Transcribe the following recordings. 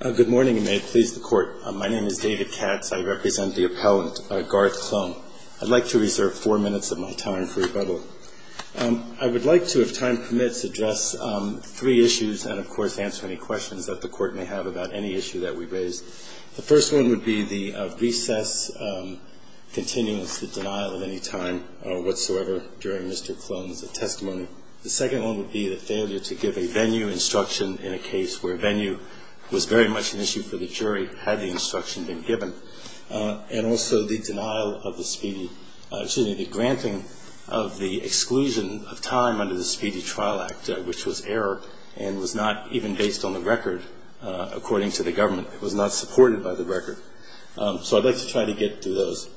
Good morning, and may it please the Court. My name is David Katz. I represent the appellant, Garth Kloehn. I'd like to reserve four minutes of my time for rebuttal. I would like to, if time permits, address three issues and, of course, answer any questions that the Court may have about any issue that we raise. The first one would be the recess continuing with the denial of any time whatsoever during Mr. Kloehn's testimony. The second one would be the failure to give a venue instruction in a case where venue was very much an issue for the jury had the instruction been given. And also the denial of the speedy – excuse me, the granting of the exclusion of time under the Speedy Trial Act, which was error and was not even based on the record, according to the government. It was not supported by the record. So I'd like to try to get to those.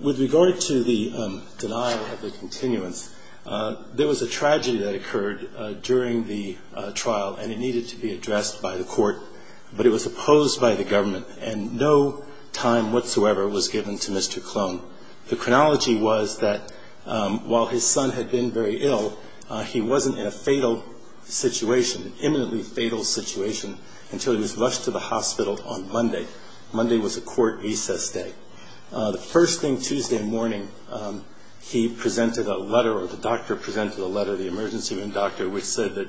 With regard to the denial of the continuance, there was a tragedy that occurred during the trial, and it needed to be addressed by the Court. But it was opposed by the government, and no time whatsoever was given to Mr. Kloehn. The chronology was that while his son had been very ill, he wasn't in a fatal situation, an imminently fatal situation, until he was rushed to the hospital on Monday. Monday was a court recess day. The first thing Tuesday morning, he presented a letter, or the doctor presented a letter, the emergency room doctor, which said that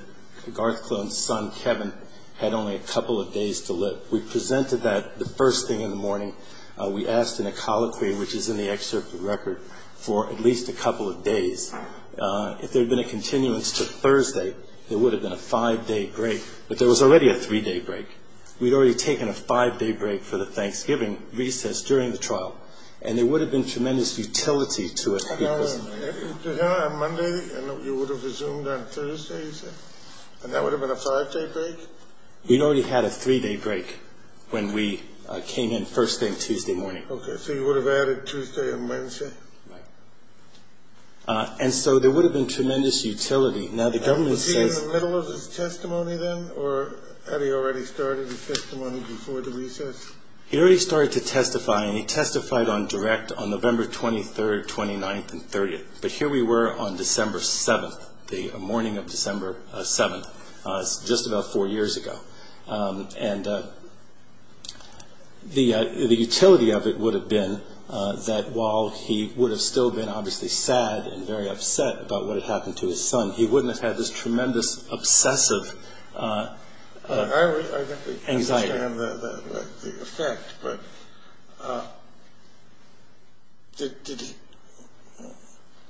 Garth Kloehn's son, Kevin, had only a couple of days to live. We presented that the first thing in the morning. We asked in a colloquy, which is in the excerpt of the record, for at least a couple of days. If there had been a continuance to Thursday, there would have been a five-day break, but there was already a three-day break. We'd already taken a five-day break for the Thanksgiving recess during the trial, and there would have been tremendous utility to it. Now, on Monday, you would have resumed on Thursday, you said? And that would have been a five-day break? We'd already had a three-day break when we came in first thing Tuesday morning. Okay, so you would have added Tuesday and Wednesday? Right. And so there would have been tremendous utility. Now, the government says… Did he follow his testimony then, or had he already started his testimony before the recess? He already started to testify, and he testified on direct on November 23rd, 29th, and 30th. But here we were on December 7th, the morning of December 7th, just about four years ago. And the utility of it would have been that while he would have still been, obviously, sad and very upset about what had happened to his son, he wouldn't have had this tremendous obsessive anxiety. I understand the effect, but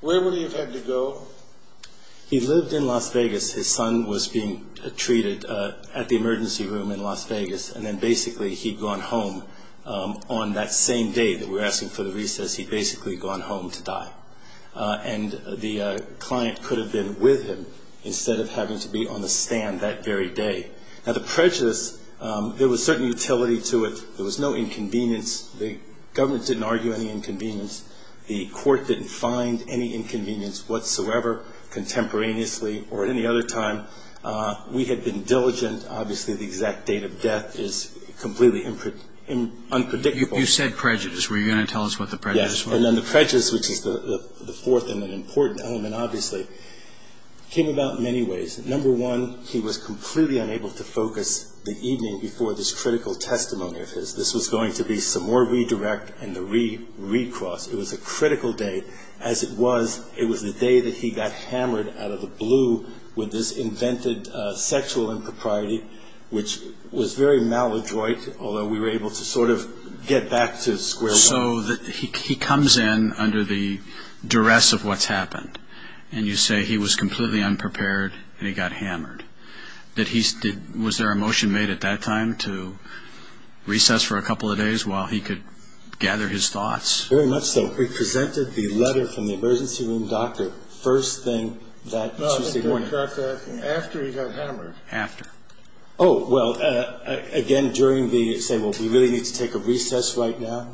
where would he have had to go? He lived in Las Vegas. His son was being treated at the emergency room in Las Vegas, and then basically he'd gone home on that same day that we're asking for the recess, he'd basically gone home to die. And the client could have been with him instead of having to be on the stand that very day. Now, the prejudice, there was certain utility to it. There was no inconvenience. The government didn't argue any inconvenience. The court didn't find any inconvenience whatsoever contemporaneously or at any other time. We had been diligent. Obviously, the exact date of death is completely unpredictable. You said prejudice. Were you going to tell us what the prejudice was? And then the prejudice, which is the fourth and an important element, obviously, came about in many ways. Number one, he was completely unable to focus the evening before this critical testimony of his. This was going to be some more redirect and the re-re-cross. It was a critical day. As it was, it was the day that he got hammered out of the blue with this invented sexual impropriety, which was very maladroit, although we were able to sort of get back to square one. So he comes in under the duress of what's happened, and you say he was completely unprepared and he got hammered. Was there a motion made at that time to recess for a couple of days while he could gather his thoughts? Very much so. We presented the letter from the emergency room doctor first thing that Tuesday morning. No, I think we got that after he got hammered. After. Oh, well, again, during the, say, well, we really need to take a recess right now.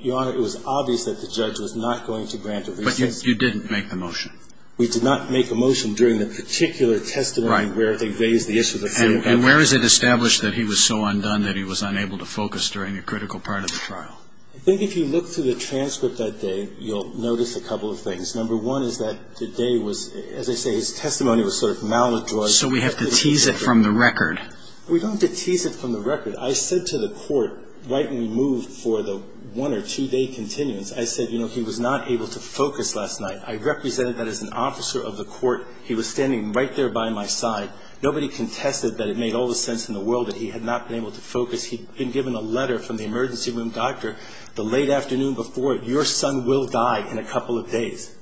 Your Honor, it was obvious that the judge was not going to grant a recess. But you didn't make the motion. We did not make a motion during the particular testimony where they raised the issue of sexual impropriety. And where is it established that he was so undone that he was unable to focus during a critical part of the trial? I think if you look through the transcript that day, you'll notice a couple of things. Number one is that the day was, as I say, his testimony was sort of maladroit. So we have to tease it from the record. We don't have to tease it from the record. I said to the court right when we moved for the one or two-day continuance, I said, you know, he was not able to focus last night. I represented that as an officer of the court. He was standing right there by my side. Nobody contested that it made all the sense in the world that he had not been able to focus. He'd been given a letter from the emergency room doctor the late afternoon before, your son will die in a couple of days.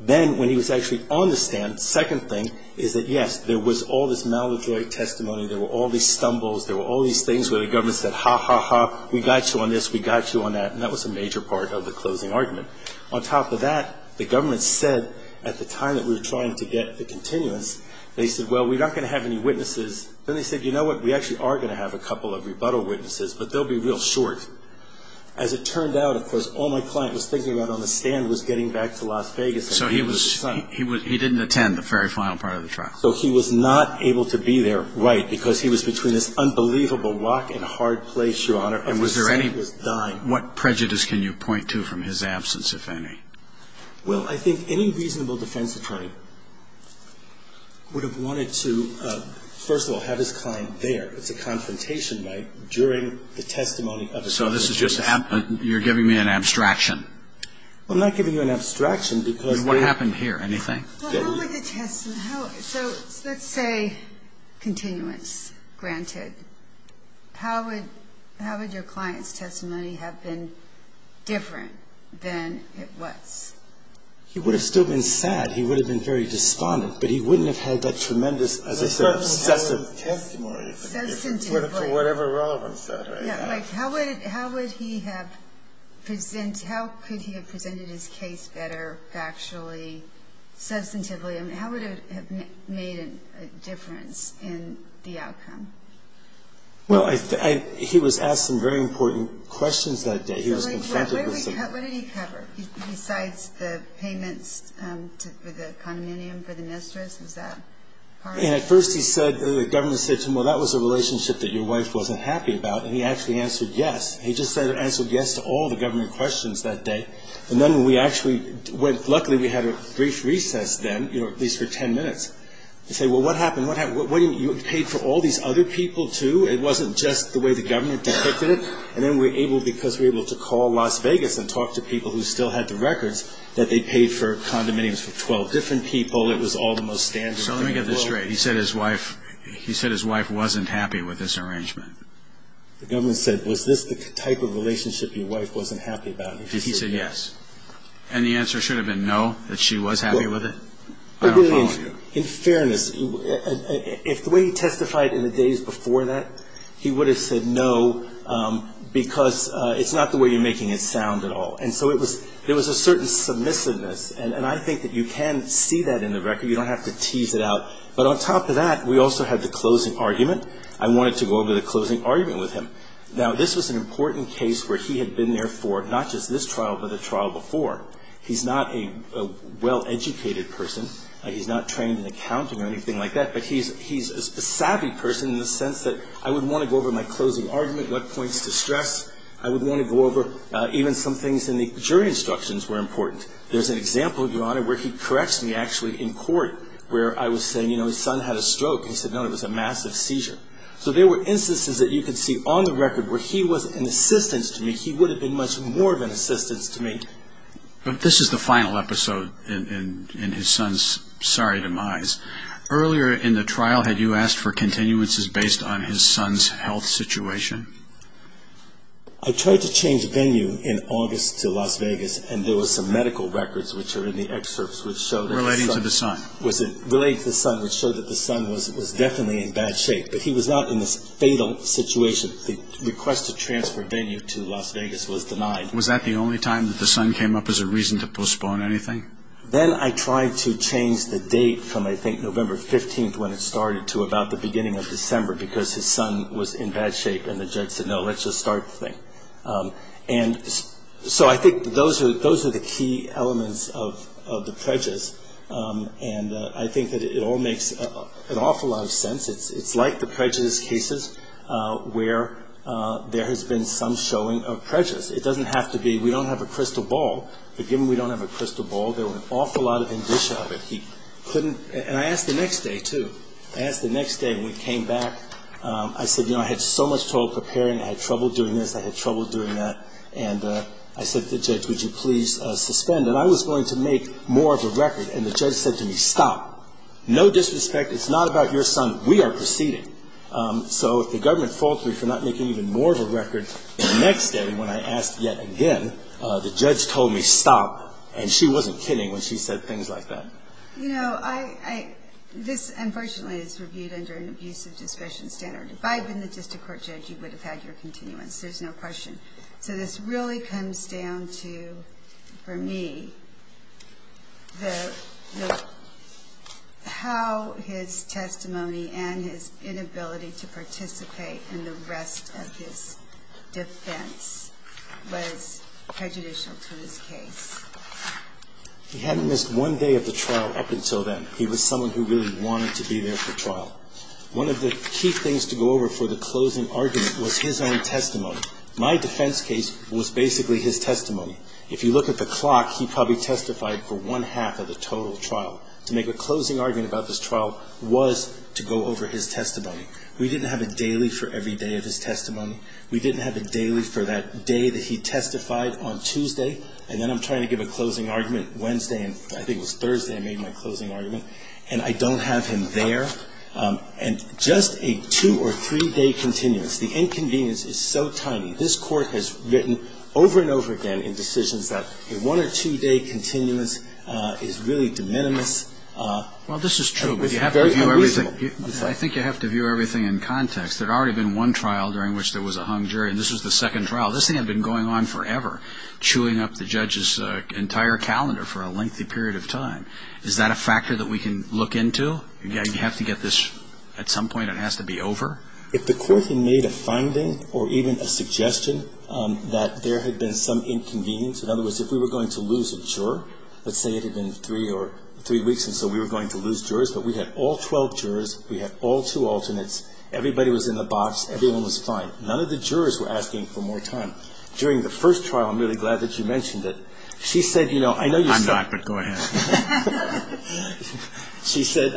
Then when he was actually on the stand, second thing is that, yes, there was all this maladroit testimony. There were all these stumbles. There were all these things where the government said, ha, ha, ha, we got you on this, we got you on that. And that was a major part of the closing argument. On top of that, the government said at the time that we were trying to get the continuance, they said, well, we're not going to have any witnesses. Then they said, you know what, we actually are going to have a couple of rebuttal witnesses, but they'll be real short. As it turned out, of course, all my client was thinking about on the stand was getting back to Las Vegas. So he was, he didn't attend the very final part of the trial. So he was not able to be there, right, because he was between this unbelievable rock and hard place, Your Honor. And was there any, what prejudice can you point to from his absence, if any? Well, I think any reasonable defense attorney would have wanted to, first of all, have his client there. It's a confrontation, right, during the testimony of his client. So this is just, you're giving me an abstraction. Well, I'm not giving you an abstraction because... What happened here, anything? Well, how would the testimony, so let's say continuance granted. How would your client's testimony have been different than it was? He would have still been sad. He would have been very despondent. But he wouldn't have held that tremendous as a sort of... Substantively. For whatever relevance that may have. Yeah, like how would he have, how could he have presented his case better factually, substantively? I mean, how would it have made a difference in the outcome? Well, he was asked some very important questions that day. He was confronted with some... What did he cover besides the payments for the condominium for the mistress? Was that part of it? And at first he said, the governor said to him, well, that was a relationship that your wife wasn't happy about. And he actually answered yes. He just answered yes to all the governor questions that day. And then when we actually went, luckily we had a brief recess then, at least for ten minutes. He said, well, what happened, what happened? You paid for all these other people too? It wasn't just the way the governor depicted it. And then we were able, because we were able to call Las Vegas and talk to people who still had the records, that they paid for condominiums for 12 different people. It was all the most standard. So let me get this straight. He said his wife wasn't happy with this arrangement? The governor said, was this the type of relationship your wife wasn't happy about? He said yes. And the answer should have been no, that she was happy with it? In fairness, if the way he testified in the days before that, he would have said no, because it's not the way you're making it sound at all. And so there was a certain submissiveness. And I think that you can see that in the record. You don't have to tease it out. But on top of that, we also had the closing argument. I wanted to go over the closing argument with him. Now, this was an important case where he had been there for not just this trial, but the trial before. He's not a well-educated person. He's not trained in accounting or anything like that. But he's a savvy person in the sense that I would want to go over my closing argument, what points to stress. I would want to go over even some things in the jury instructions were important. There's an example, Your Honor, where he corrects me actually in court where I was saying, you know, his son had a stroke. He said, no, it was a massive seizure. So there were instances that you could see on the record where he was an assistance to me. He would have been much more of an assistance to me. But this is the final episode in his son's sorry demise. Earlier in the trial, had you asked for continuances based on his son's health situation? I tried to change venue in August to Las Vegas. And there was some medical records, which are in the excerpts, which show that the son was definitely in bad shape. But he was not in this fatal situation. The request to transfer venue to Las Vegas was denied. Was that the only time that the son came up as a reason to postpone anything? Then I tried to change the date from, I think, November 15th when it started to about the beginning of December because his son was in bad shape and the judge said, no, let's just start the thing. And so I think those are the key elements of the prejudice. And I think that it all makes an awful lot of sense. It's like the prejudice cases where there has been some showing of prejudice. It doesn't have to be we don't have a crystal ball. But given we don't have a crystal ball, there were an awful lot of indicia of it. And I asked the next day, too. I asked the next day when he came back. I said, you know, I had so much trouble preparing. I had trouble doing this. I had trouble doing that. And I said to the judge, would you please suspend? And I was going to make more of a record. And the judge said to me, stop. No disrespect. It's not about your son. We are proceeding. So if the government faulted me for not making even more of a record the next day when I asked yet again, the judge told me stop. And she wasn't kidding when she said things like that. You know, this unfortunately is reviewed under an abusive discretion standard. If I had been the district court judge, you would have had your continuance. There's no question. So this really comes down to, for me, how his testimony and his inability to participate in the rest of his defense was prejudicial to his case. He hadn't missed one day of the trial up until then. He was someone who really wanted to be there for trial. One of the key things to go over for the closing argument was his own testimony. My defense case was basically his testimony. If you look at the clock, he probably testified for one-half of the total trial. To make a closing argument about this trial was to go over his testimony. We didn't have a daily for every day of his testimony. We didn't have a daily for that day that he testified on Tuesday. And then I'm trying to give a closing argument Wednesday, and I think it was Thursday I made my closing argument. And I don't have him there. And just a two- or three-day continuance, the inconvenience is so tiny. This court has written over and over again in decisions that a one- or two-day continuance is really de minimis. Well, this is true, but you have to view everything. I think you have to view everything in context. There had already been one trial during which there was a hung jury, and this was the second trial. This thing had been going on forever, chewing up the judge's entire calendar for a lengthy period of time. Is that a factor that we can look into? Yeah, you have to get this at some point. It has to be over. If the court had made a finding or even a suggestion that there had been some inconvenience, in other words, if we were going to lose a juror, let's say it had been three weeks and so we were going to lose jurors, but we had all 12 jurors, we had all two alternates, everybody was in the box, everyone was fine. None of the jurors were asking for more time. During the first trial, I'm really glad that you mentioned it, she said, you know, I know you're stuck. I'm not, but go ahead. She said, you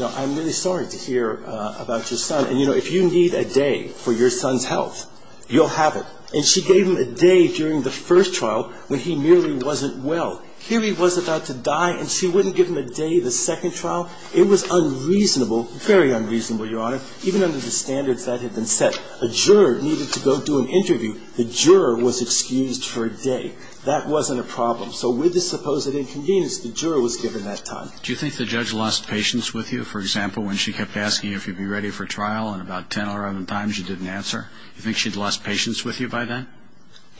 know, I'm really sorry to hear about your son. And, you know, if you need a day for your son's health, you'll have it. And she gave him a day during the first trial when he merely wasn't well. Here he was about to die and she wouldn't give him a day the second trial? It was unreasonable, very unreasonable, Your Honor, even under the standards that had been set. A juror needed to go do an interview. The juror was excused for a day. That wasn't a problem. So with the supposed inconvenience, the juror was given that time. Do you think the judge lost patience with you, for example, when she kept asking you if you'd be ready for trial and about 10 or 11 times you didn't answer? Do you think she'd lost patience with you by then?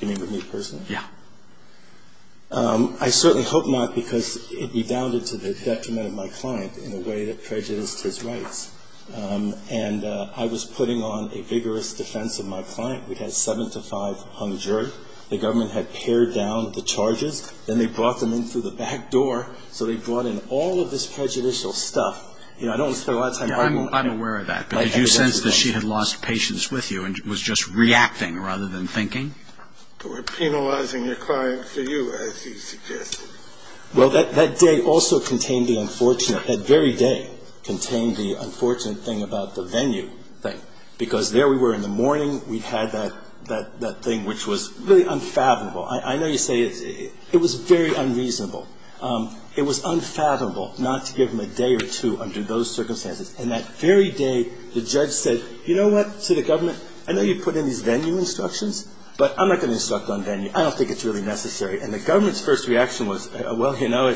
You mean with me personally? Yeah. I certainly hope not because it rebounded to the detriment of my client in a way that prejudiced his rights. And I was putting on a vigorous defense of my client. We had seven to five on the jury. The government had pared down the charges. Then they brought them in through the back door. So they brought in all of this prejudicial stuff. You know, I don't want to spend a lot of time arguing. I'm aware of that. But did you sense that she had lost patience with you and was just reacting rather than thinking? Or penalizing your client for you, as you suggested. Well, that day also contained the unfortunate, that very day contained the unfortunate thing about the venue thing. Because there we were in the morning, we had that thing which was really unfathomable. I know you say it was very unreasonable. It was unfathomable not to give them a day or two under those circumstances. And that very day the judge said, you know what, to the government, I know you put in these venue instructions, but I'm not going to instruct on venue. I don't think it's really necessary. And the government's first reaction was, well, you know,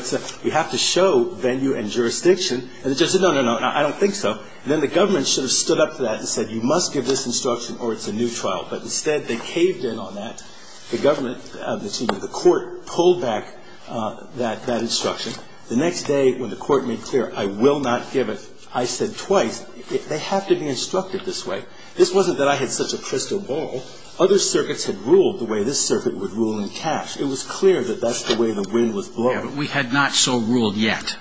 you have to show venue and jurisdiction. And the judge said, no, no, no, I don't think so. And then the government should have stood up to that and said, you must give this instruction or it's a new trial. But instead they caved in on that. The government, excuse me, the court pulled back that instruction. The next day when the court made clear, I will not give it, I said twice, they have to be instructed this way. This wasn't that I had such a crystal ball. Other circuits had ruled the way this circuit would rule in cash. It was clear that that's the way the wind was blowing. We had not so ruled yet.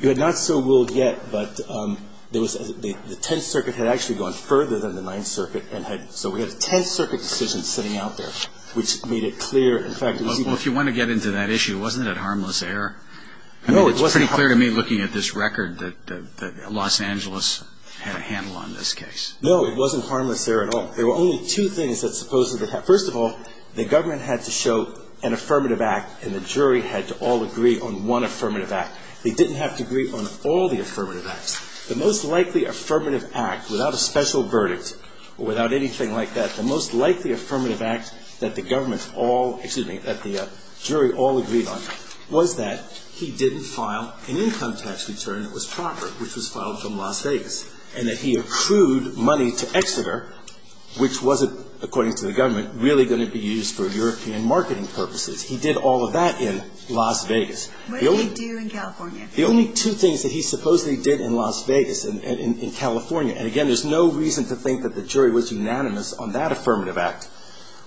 You had not so ruled yet, but the Tenth Circuit had actually gone further than the Ninth Circuit. So we had a Tenth Circuit decision sitting out there, which made it clear. Well, if you want to get into that issue, wasn't it harmless error? No, it wasn't. I mean, it's pretty clear to me looking at this record that Los Angeles had a handle on this case. No, it wasn't harmless error at all. There were only two things that supposedly, first of all, the government had to show an affirmative act and the jury had to all agree on one affirmative act. They didn't have to agree on all the affirmative acts. The most likely affirmative act without a special verdict or without anything like that, the most likely affirmative act that the government all, excuse me, that the jury all agreed on was that he didn't file an income tax return that was proper, which was filed from Las Vegas, and that he accrued money to Exeter, which wasn't, according to the government, really going to be used for European marketing purposes. He did all of that in Las Vegas. What did he do in California? The only two things that he supposedly did in Las Vegas and in California, and again, there's no reason to think that the jury was unanimous on that affirmative act,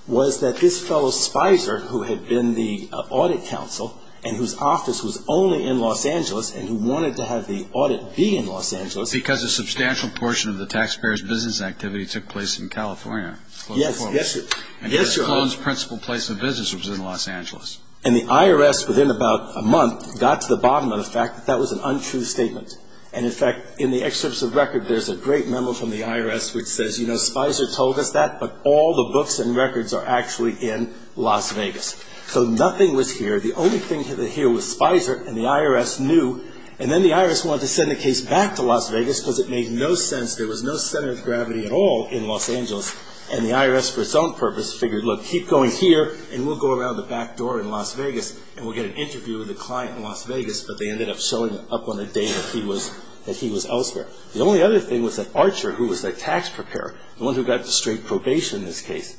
was that this fellow, Spicer, who had been the audit counsel and whose office was only in Los Angeles and who wanted to have the audit be in Los Angeles. Because a substantial portion of the taxpayers' business activity took place in California. Yes, yes. And Mr. Colon's principal place of business was in Los Angeles. And the IRS, within about a month, got to the bottom of the fact that that was an untrue statement. And, in fact, in the excerpts of record, there's a great memo from the IRS which says, you know, Spicer told us that, but all the books and records are actually in Las Vegas. So nothing was here. The only thing that was here was Spicer, and the IRS knew. And then the IRS wanted to send the case back to Las Vegas because it made no sense. There was no center of gravity at all in Los Angeles. And the IRS, for its own purpose, figured, look, keep going here, and we'll go around the back door in Las Vegas and we'll get an interview with a client in Las Vegas. But they ended up showing up on a date that he was elsewhere. The only other thing was that Archer, who was the tax preparer, the one who got the straight probation in this case,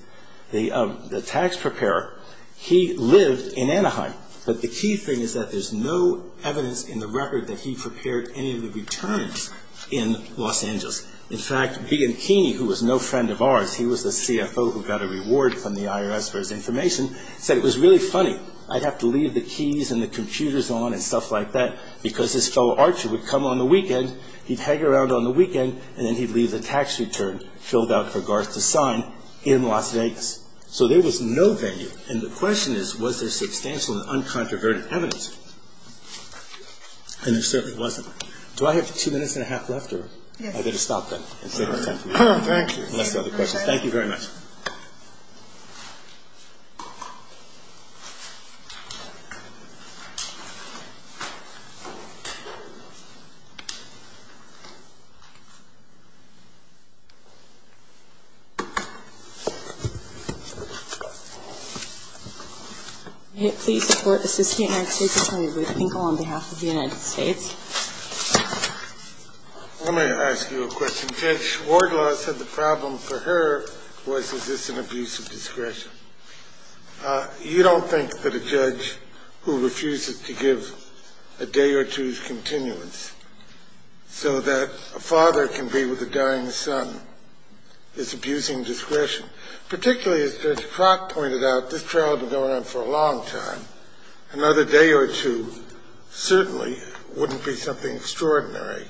the tax preparer, he lived in Anaheim. But the key thing is that there's no evidence in the record that he prepared any of the returns in Los Angeles. In fact, Bianchini, who was no friend of ours, he was the CFO who got a reward from the IRS for his information, said it was really funny. I'd have to leave the keys and the computers on and stuff like that because this fellow Archer would come on the weekend, he'd hang around on the weekend, and then he'd leave the tax return filled out for Garth to sign in Las Vegas. So there was no venue. And the question is, was there substantial and uncontroverted evidence? And there certainly wasn't. Do I have two minutes and a half left? Yes. I'd better stop then. Thank you. Unless there are other questions. Thank you very much. Please support the assistant attorney, Ruth Ingle, on behalf of the United States. I'm going to ask you a question. Judge Wardlaw said the problem for her was is this an abuse of discretion? You don't think that a judge who refuses to give a day or two's continuance so that a father can be with a dying son is abusing discretion? Particularly as Judge Crock pointed out, this trial had been going on for a long time. Another day or two certainly wouldn't be something extraordinary.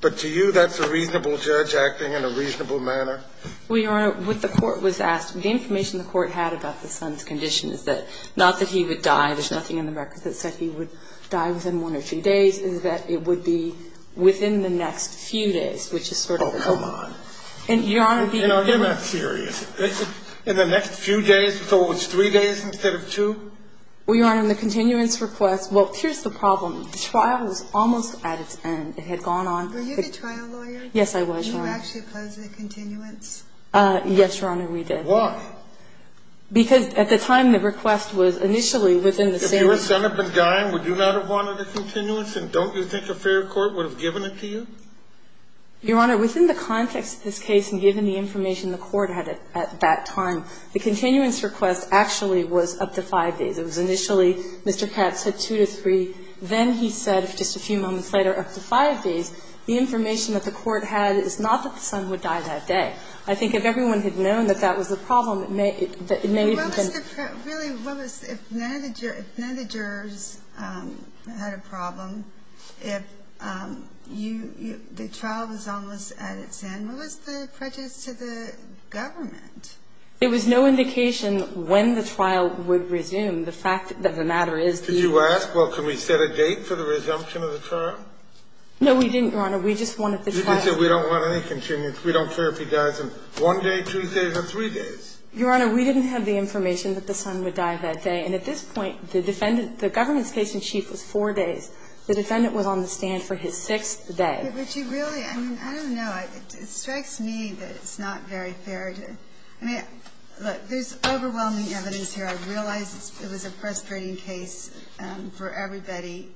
But to you, that's a reasonable judge acting in a reasonable manner? Well, Your Honor, what the court was asking, the information the court had about the son's condition is that not that he would die, there's nothing in the records that said he would die within one or two days, is that it would be within the next few days, which is sort of a problem. Oh, come on. And, Your Honor, the other one. You're not serious. In the next few days, we thought it was three days instead of two? Well, Your Honor, in the continuance request, well, here's the problem. The trial was almost at its end. It had gone on. Were you the trial lawyer? Yes, I was, Your Honor. Did you actually oppose the continuance? Yes, Your Honor, we did. Why? Because at the time the request was initially within the same. If your son had been dying, would you not have wanted a continuance, and don't you think a fair court would have given it to you? Your Honor, within the context of this case and given the information the court had at that time, the continuance request actually was up to five days. It was initially Mr. Katz said two to three. Then he said, just a few moments later, up to five days. The information that the court had is not that the son would die that day. I think if everyone had known that that was the problem, it may have been. Really, what was the – if none of the jurors had a problem, if you – the trial was almost at its end, what was the prejudice to the government? It was no indication when the trial would resume. The fact that the matter is the – Did you ask, well, can we set a date for the resumption of the trial? No, we didn't, Your Honor. We just wanted the trial – You can say we don't want any continuance. We don't care if he dies in one day, two days, or three days. Your Honor, we didn't have the information that the son would die that day. And at this point, the defendant – the government's case in chief was four days. The defendant was on the stand for his sixth day. But you really – I mean, I don't know. It strikes me that it's not very fair to – I mean, look, there's overwhelming evidence here. I realize it was a frustrating case for everybody.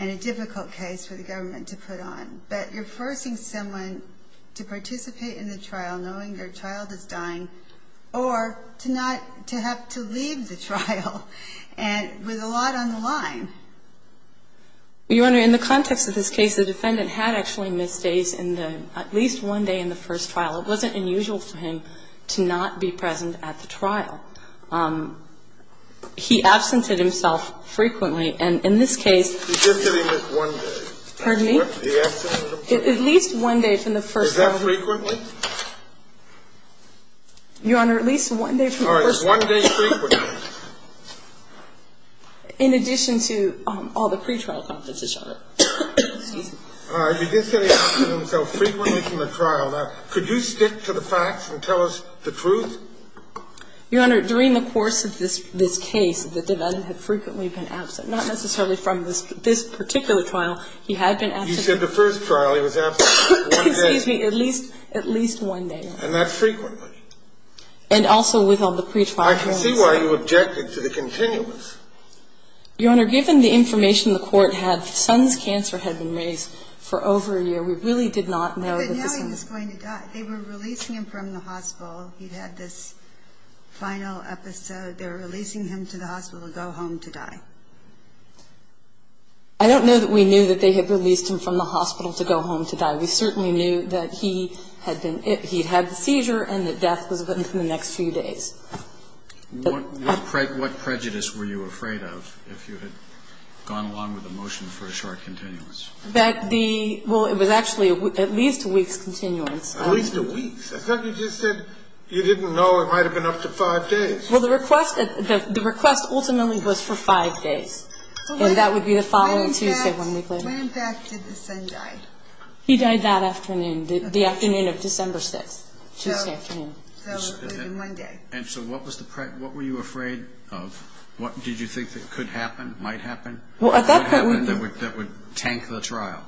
And a difficult case for the government to put on. But you're forcing someone to participate in the trial knowing their child is dying or to not – to have to leave the trial with a lot on the line. Well, Your Honor, in the context of this case, the defendant had actually missed days in the – at least one day in the first trial. It wasn't unusual for him to not be present at the trial. He absented himself frequently. And in this case – He did say he missed one day. Pardon me? He absented himself frequently. At least one day from the first trial. Is that frequently? Your Honor, at least one day from the first trial. All right. One day frequently. In addition to all the pretrial competition. Excuse me. All right. He did say he absented himself frequently from the trial. Now, could you stick to the facts and tell us the truth? Your Honor, during the course of this case, the defendant had frequently been absent. Not necessarily from this particular trial. He had been absent. You said the first trial. He was absent for one day. Excuse me. At least one day. And that's frequently. And also with all the pretrial competition. I can see why you objected to the continuance. Your Honor, given the information the court had, the son's cancer had been raised for over a year. We really did not know that the son was – But now he was going to die. They were releasing him from the hospital. He'd had this final episode. They were releasing him to the hospital to go home to die. I don't know that we knew that they had released him from the hospital to go home to die. We certainly knew that he'd had the seizure and that death was within the next few days. What prejudice were you afraid of if you had gone along with the motion for a short continuance? Well, it was actually at least a week's continuance. At least a week. I thought you just said you didn't know it might have been up to five days. Well, the request ultimately was for five days. And that would be the following Tuesday when we claimed him. When, in fact, did the son die? He died that afternoon, the afternoon of December 6th, Tuesday afternoon. So it would have been one day. And so what were you afraid of? What did you think that could happen, might happen? What happened that would tank the trial,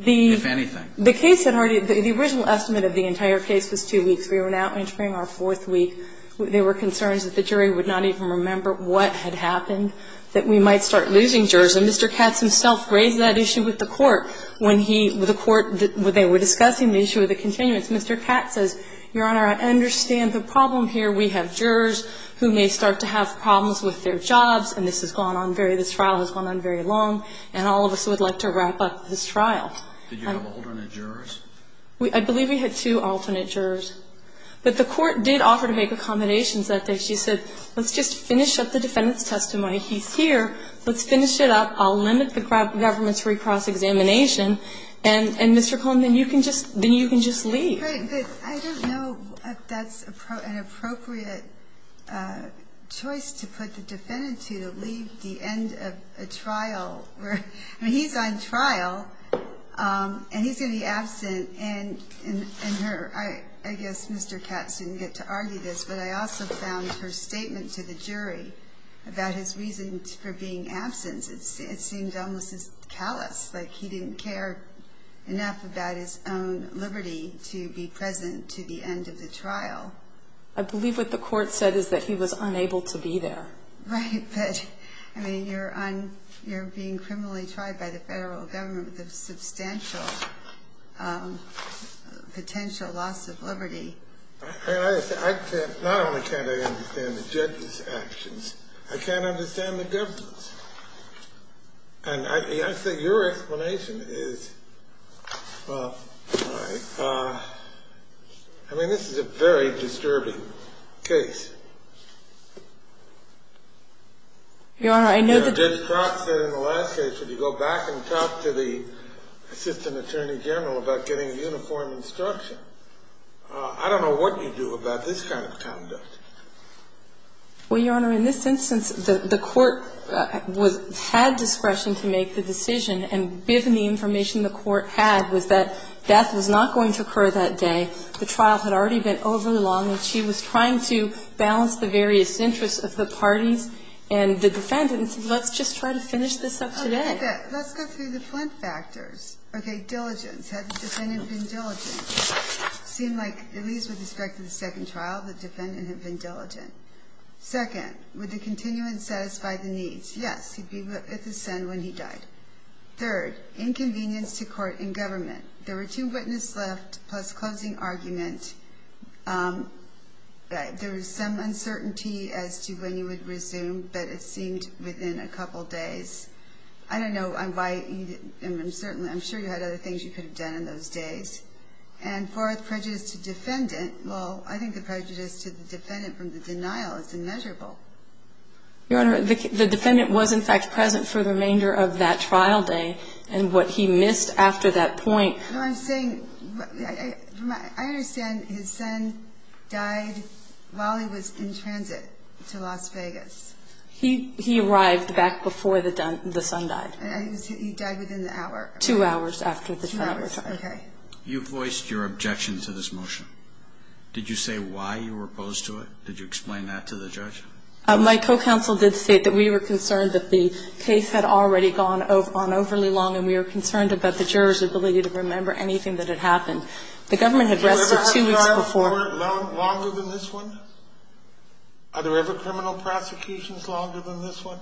if anything? The case had already been, the original estimate of the entire case was two weeks. We were now entering our fourth week. There were concerns that the jury would not even remember what had happened, that we might start losing jurors. And Mr. Katz himself raised that issue with the Court when he, the Court, they were discussing the issue of the continuance. Mr. Katz says, Your Honor, I understand the problem here. We have jurors who may start to have problems with their jobs, and this has gone on very, this trial has gone on very long, and all of us would like to wrap up this trial. Did you have alternate jurors? I believe we had two alternate jurors. But the Court did offer to make accommodations that day. She said, Let's just finish up the defendant's testimony. He's here. Let's finish it up. I'll limit the government's recross examination. And, Mr. Cohn, then you can just leave. But I don't know if that's an appropriate choice to put the defendant to, to leave the end of a trial. I mean, he's on trial, and he's going to be absent. And her, I guess Mr. Katz didn't get to argue this, but I also found her statement to the jury about his reasons for being absent, it seemed almost callous, like he didn't care enough about his own liberty to be present to the end of the trial. I believe what the Court said is that he was unable to be there. Right. But, I mean, you're on, you're being criminally tried by the federal government with a substantial potential loss of liberty. I can't, not only can't I understand the judge's actions, I can't understand the government's. And I think your explanation is, well, I mean, this is a very disturbing case. Your Honor, I know that the judge said in the last case, if you go back and talk to the assistant attorney general about getting a uniform instruction, I don't know what you do about this kind of conduct. Well, Your Honor, in this instance, the Court was, had discretion to make the decision, and given the information the Court had was that death was not going to occur that the trial had already been over long, and she was trying to balance the various interests of the parties and the defendant, and said, let's just try to finish this up today. Okay. Let's go through the flint factors. Okay. Diligence. Had the defendant been diligent? It seemed like, at least with respect to the second trial, the defendant had been diligent. Second, would the continuance satisfy the needs? Yes. He'd be at the scene when he died. Third, inconvenience to court and government. There were two witnesses left, plus closing argument. There was some uncertainty as to when you would resume, but it seemed within a couple days. I don't know why you didn't, and I'm sure you had other things you could have done in those days. And fourth, prejudice to defendant. Well, I think the prejudice to the defendant from the denial is immeasurable. Your Honor, the defendant was, in fact, present for the remainder of that trial day, and what he missed after that point. No, I'm saying, I understand his son died while he was in transit to Las Vegas. He arrived back before the son died. He died within the hour. Two hours after the trial. Two hours. Okay. You voiced your objection to this motion. Did you explain that to the judge? My co-counsel did state that we were concerned that the case had already gone on overly long, and we were concerned about the juror's ability to remember anything that had happened. The government had rested two weeks before. Have you ever had a trial longer than this one? Are there ever criminal prosecutions longer than this one?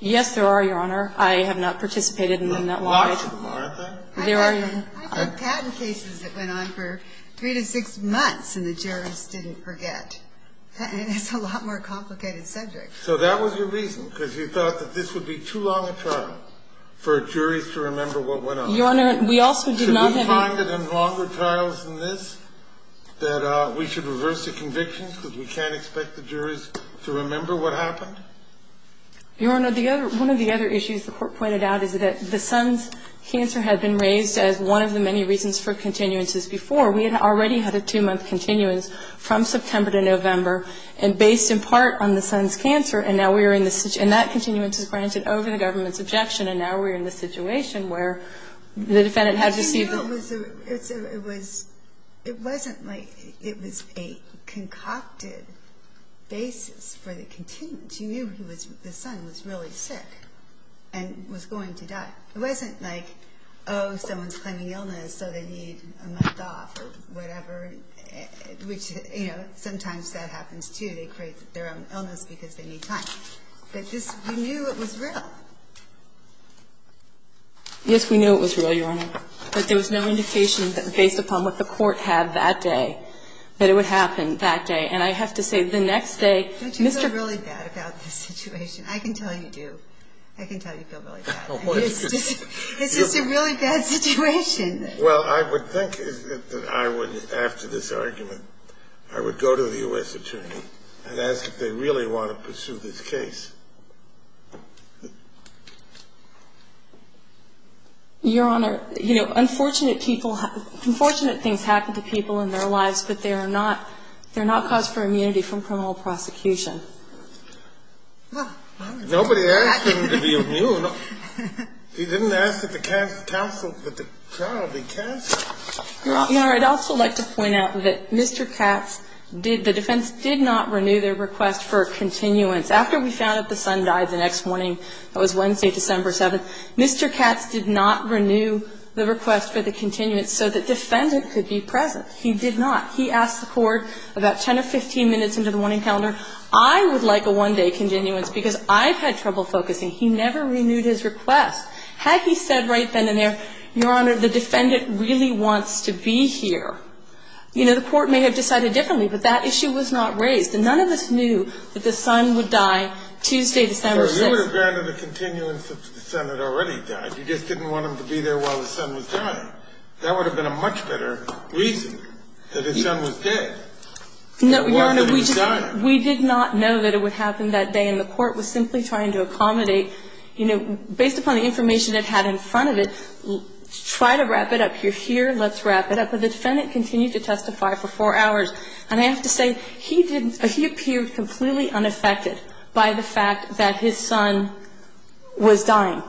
Yes, there are, Your Honor. I have not participated in them that long. There are lots of them, aren't there? There are. I've had patent cases that went on for three to six months, and the jurors didn't forget. And it's a lot more complicated subject. So that was your reason, because you thought that this would be too long a trial for jurors to remember what went on. Your Honor, we also did not have any – Should we find it in longer trials than this, that we should reverse the convictions because we can't expect the jurors to remember what happened? Your Honor, one of the other issues the court pointed out is that the son's cancer had been raised as one of the many reasons for continuances before. We had already had a two-month continuance from September to November, and based in part on the son's cancer, and now we are in the – and that continuance is granted over the government's objection, and now we are in the situation where the defendant had to see the – But you knew it was a – it was – it wasn't like it was a concocted basis for the continuance. You knew he was – the son was really sick and was going to die. It wasn't like, oh, someone's claiming illness, so they need a month off or whatever, which, you know, sometimes that happens, too. They create their own illness because they need time. But this – we knew it was real. Yes, we knew it was real, Your Honor. But there was no indication that, based upon what the court had that day, that it would happen that day. And I have to say, the next day, Mr. – Don't you feel really bad about this situation? I can tell you do. I can tell you feel really bad. It's just a really bad situation. Well, I would think that I would, after this argument, I would go to the U.S. attorney and ask if they really want to pursue this case. Your Honor, you know, unfortunate people – unfortunate things happen to people in their lives, but they are not – they're not cause for immunity from criminal prosecution. Nobody asked him to be immune. He didn't ask that the counsel – that the trial be canceled. Your Honor, I'd also like to point out that Mr. Katz did – the defense did not renew their request for a continuance. After we found out the son died the next morning, that was Wednesday, December 7th, Mr. Katz did not renew the request for the continuance so that the defendant could be present. He did not. He asked the court about 10 or 15 minutes into the morning calendar. I would like a one-day continuance because I've had trouble focusing. He never renewed his request. Had he said right then and there, Your Honor, the defendant really wants to be here, you know, the court may have decided differently, but that issue was not raised. And none of us knew that the son would die Tuesday, December 6th. Well, you would have granted a continuance if the son had already died. You just didn't want him to be there while the son was dying. That would have been a much better reason that his son was dead. No, Your Honor, we did not know that it would happen that day, and the court was simply trying to accommodate, you know, based upon the information it had in front of it, try to wrap it up. You're here, let's wrap it up. But the defendant continued to testify for four hours. And I have to say, he didn't – he appeared completely unaffected by the fact that his son was dying.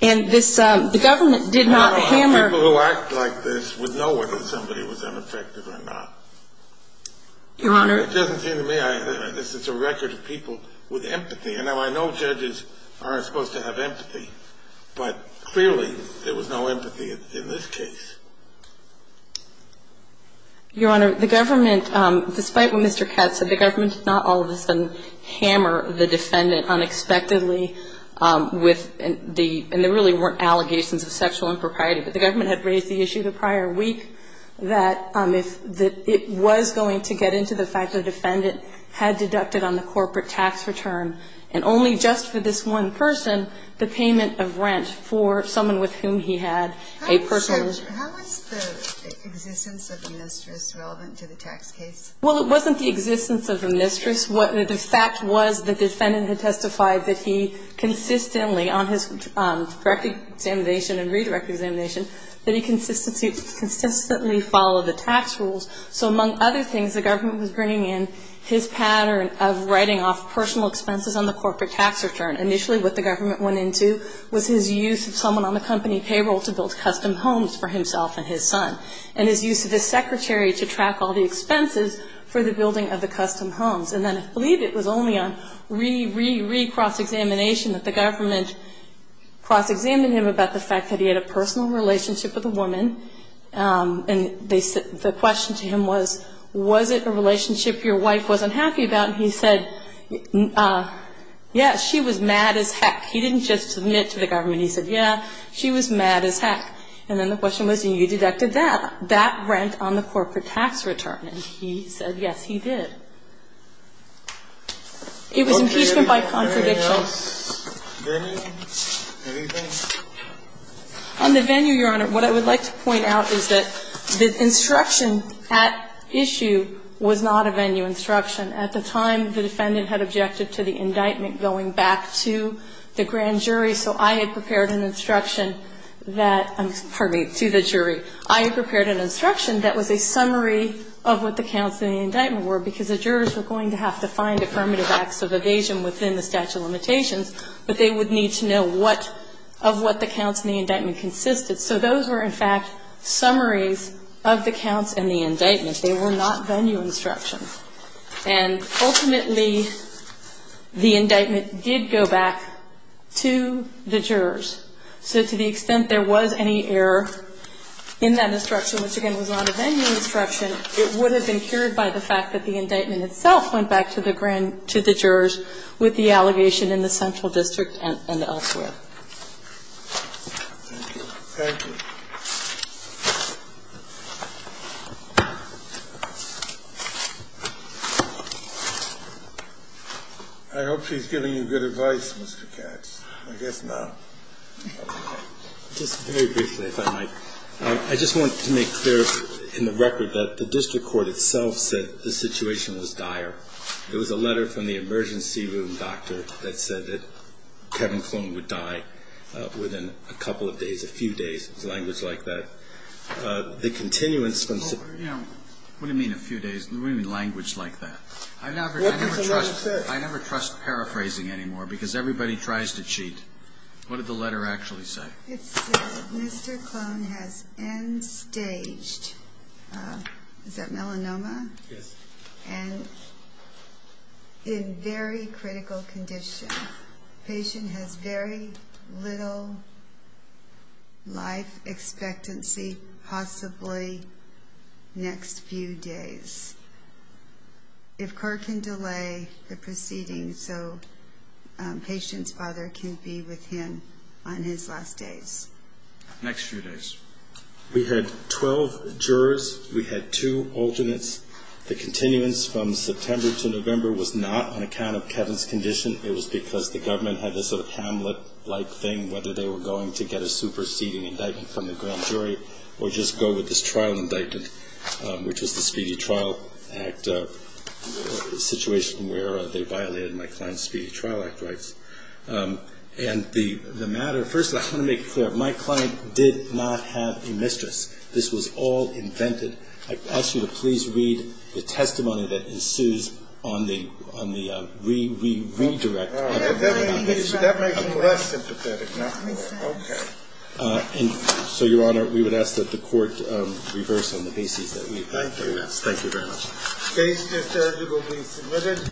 And this – the government did not hammer – People who act like this would know whether somebody was unaffected or not. Your Honor – It doesn't seem to me – this is a record of people with empathy. And now, I know judges aren't supposed to have empathy, but clearly there was no empathy in this case. Your Honor, the government, despite what Mr. Katz said, the government did not all And there really weren't allegations of sexual impropriety. But the government had raised the issue the prior week that if – that it was going to get into the fact that a defendant had deducted on the corporate tax return and only just for this one person, the payment of rent for someone with whom he had a personal – How was the existence of the mistress relevant to the tax case? Well, it wasn't the existence of the mistress. The fact was that the defendant had testified that he consistently, on his direct examination and redirect examination, that he consistently followed the tax rules. So among other things, the government was bringing in his pattern of writing off personal expenses on the corporate tax return. Initially, what the government went into was his use of someone on the company payroll to build custom homes for himself and his son. And his use of his secretary to track all the expenses for the building of the house. And I believe it was only on re-re-re-cross-examination that the government cross-examined him about the fact that he had a personal relationship with a woman. And the question to him was, was it a relationship your wife wasn't happy about? And he said, yes, she was mad as heck. He didn't just submit to the government. He said, yeah, she was mad as heck. And then the question was, and you deducted that, that rent on the corporate tax return. And he said, yes, he did. It was impeachment by contradiction. On the venue, Your Honor, what I would like to point out is that the instruction at issue was not a venue instruction. At the time, the defendant had objected to the indictment going back to the grand jury. So I had prepared an instruction that, pardon me, to the jury. I had prepared an instruction that was a summary of what the counts in the indictment were, because the jurors were going to have to find affirmative acts of evasion within the statute of limitations, but they would need to know what of what the counts in the indictment consisted. So those were, in fact, summaries of the counts in the indictment. They were not venue instructions. And ultimately, the indictment did go back to the jurors. So to the extent there was any error in that instruction, which, again, was not a venue instruction, it would have been cured by the fact that the indictment itself went back to the grand jurors with the allegation in the central district and elsewhere. Thank you. Thank you. I hope she's giving you good advice, Mr. Katz. I guess not. Just very briefly, if I might. I just want to make clear in the record that the district court itself said the situation was dire. There was a letter from the emergency room doctor that said that Kevin Klum would die within a couple of days, a few days. It was language like that. The continuance from the city. What do you mean a few days? What do you mean language like that? I never trust paraphrasing anymore, because everybody tries to cheat. What did the letter actually say? It said, Mr. Klum has end-staged, is that melanoma? Yes. And in very critical condition. The patient has very little life expectancy, possibly next few days. If court can delay the proceeding so patient's father can be with him on his last days. Next few days. We had 12 jurors. We had two alternates. The continuance from September to November was not on account of Kevin's condition. It was because the government had this Hamlet-like thing, whether they were going to get a superseding indictment from the grand jury or just go with this trial indictment, which was the Speedy Trial Act situation where they violated my client's Speedy Trial Act rights. And the matter, first of all, I want to make it clear. My client did not have a mistress. This was all invented. I ask you to please read the testimony that ensues on the redirect. That makes me less sympathetic now. Okay. And so, Your Honor, we would ask that the court reverse on the basis that we've heard from you guys. Thank you very much. Case is scheduled to be submitted.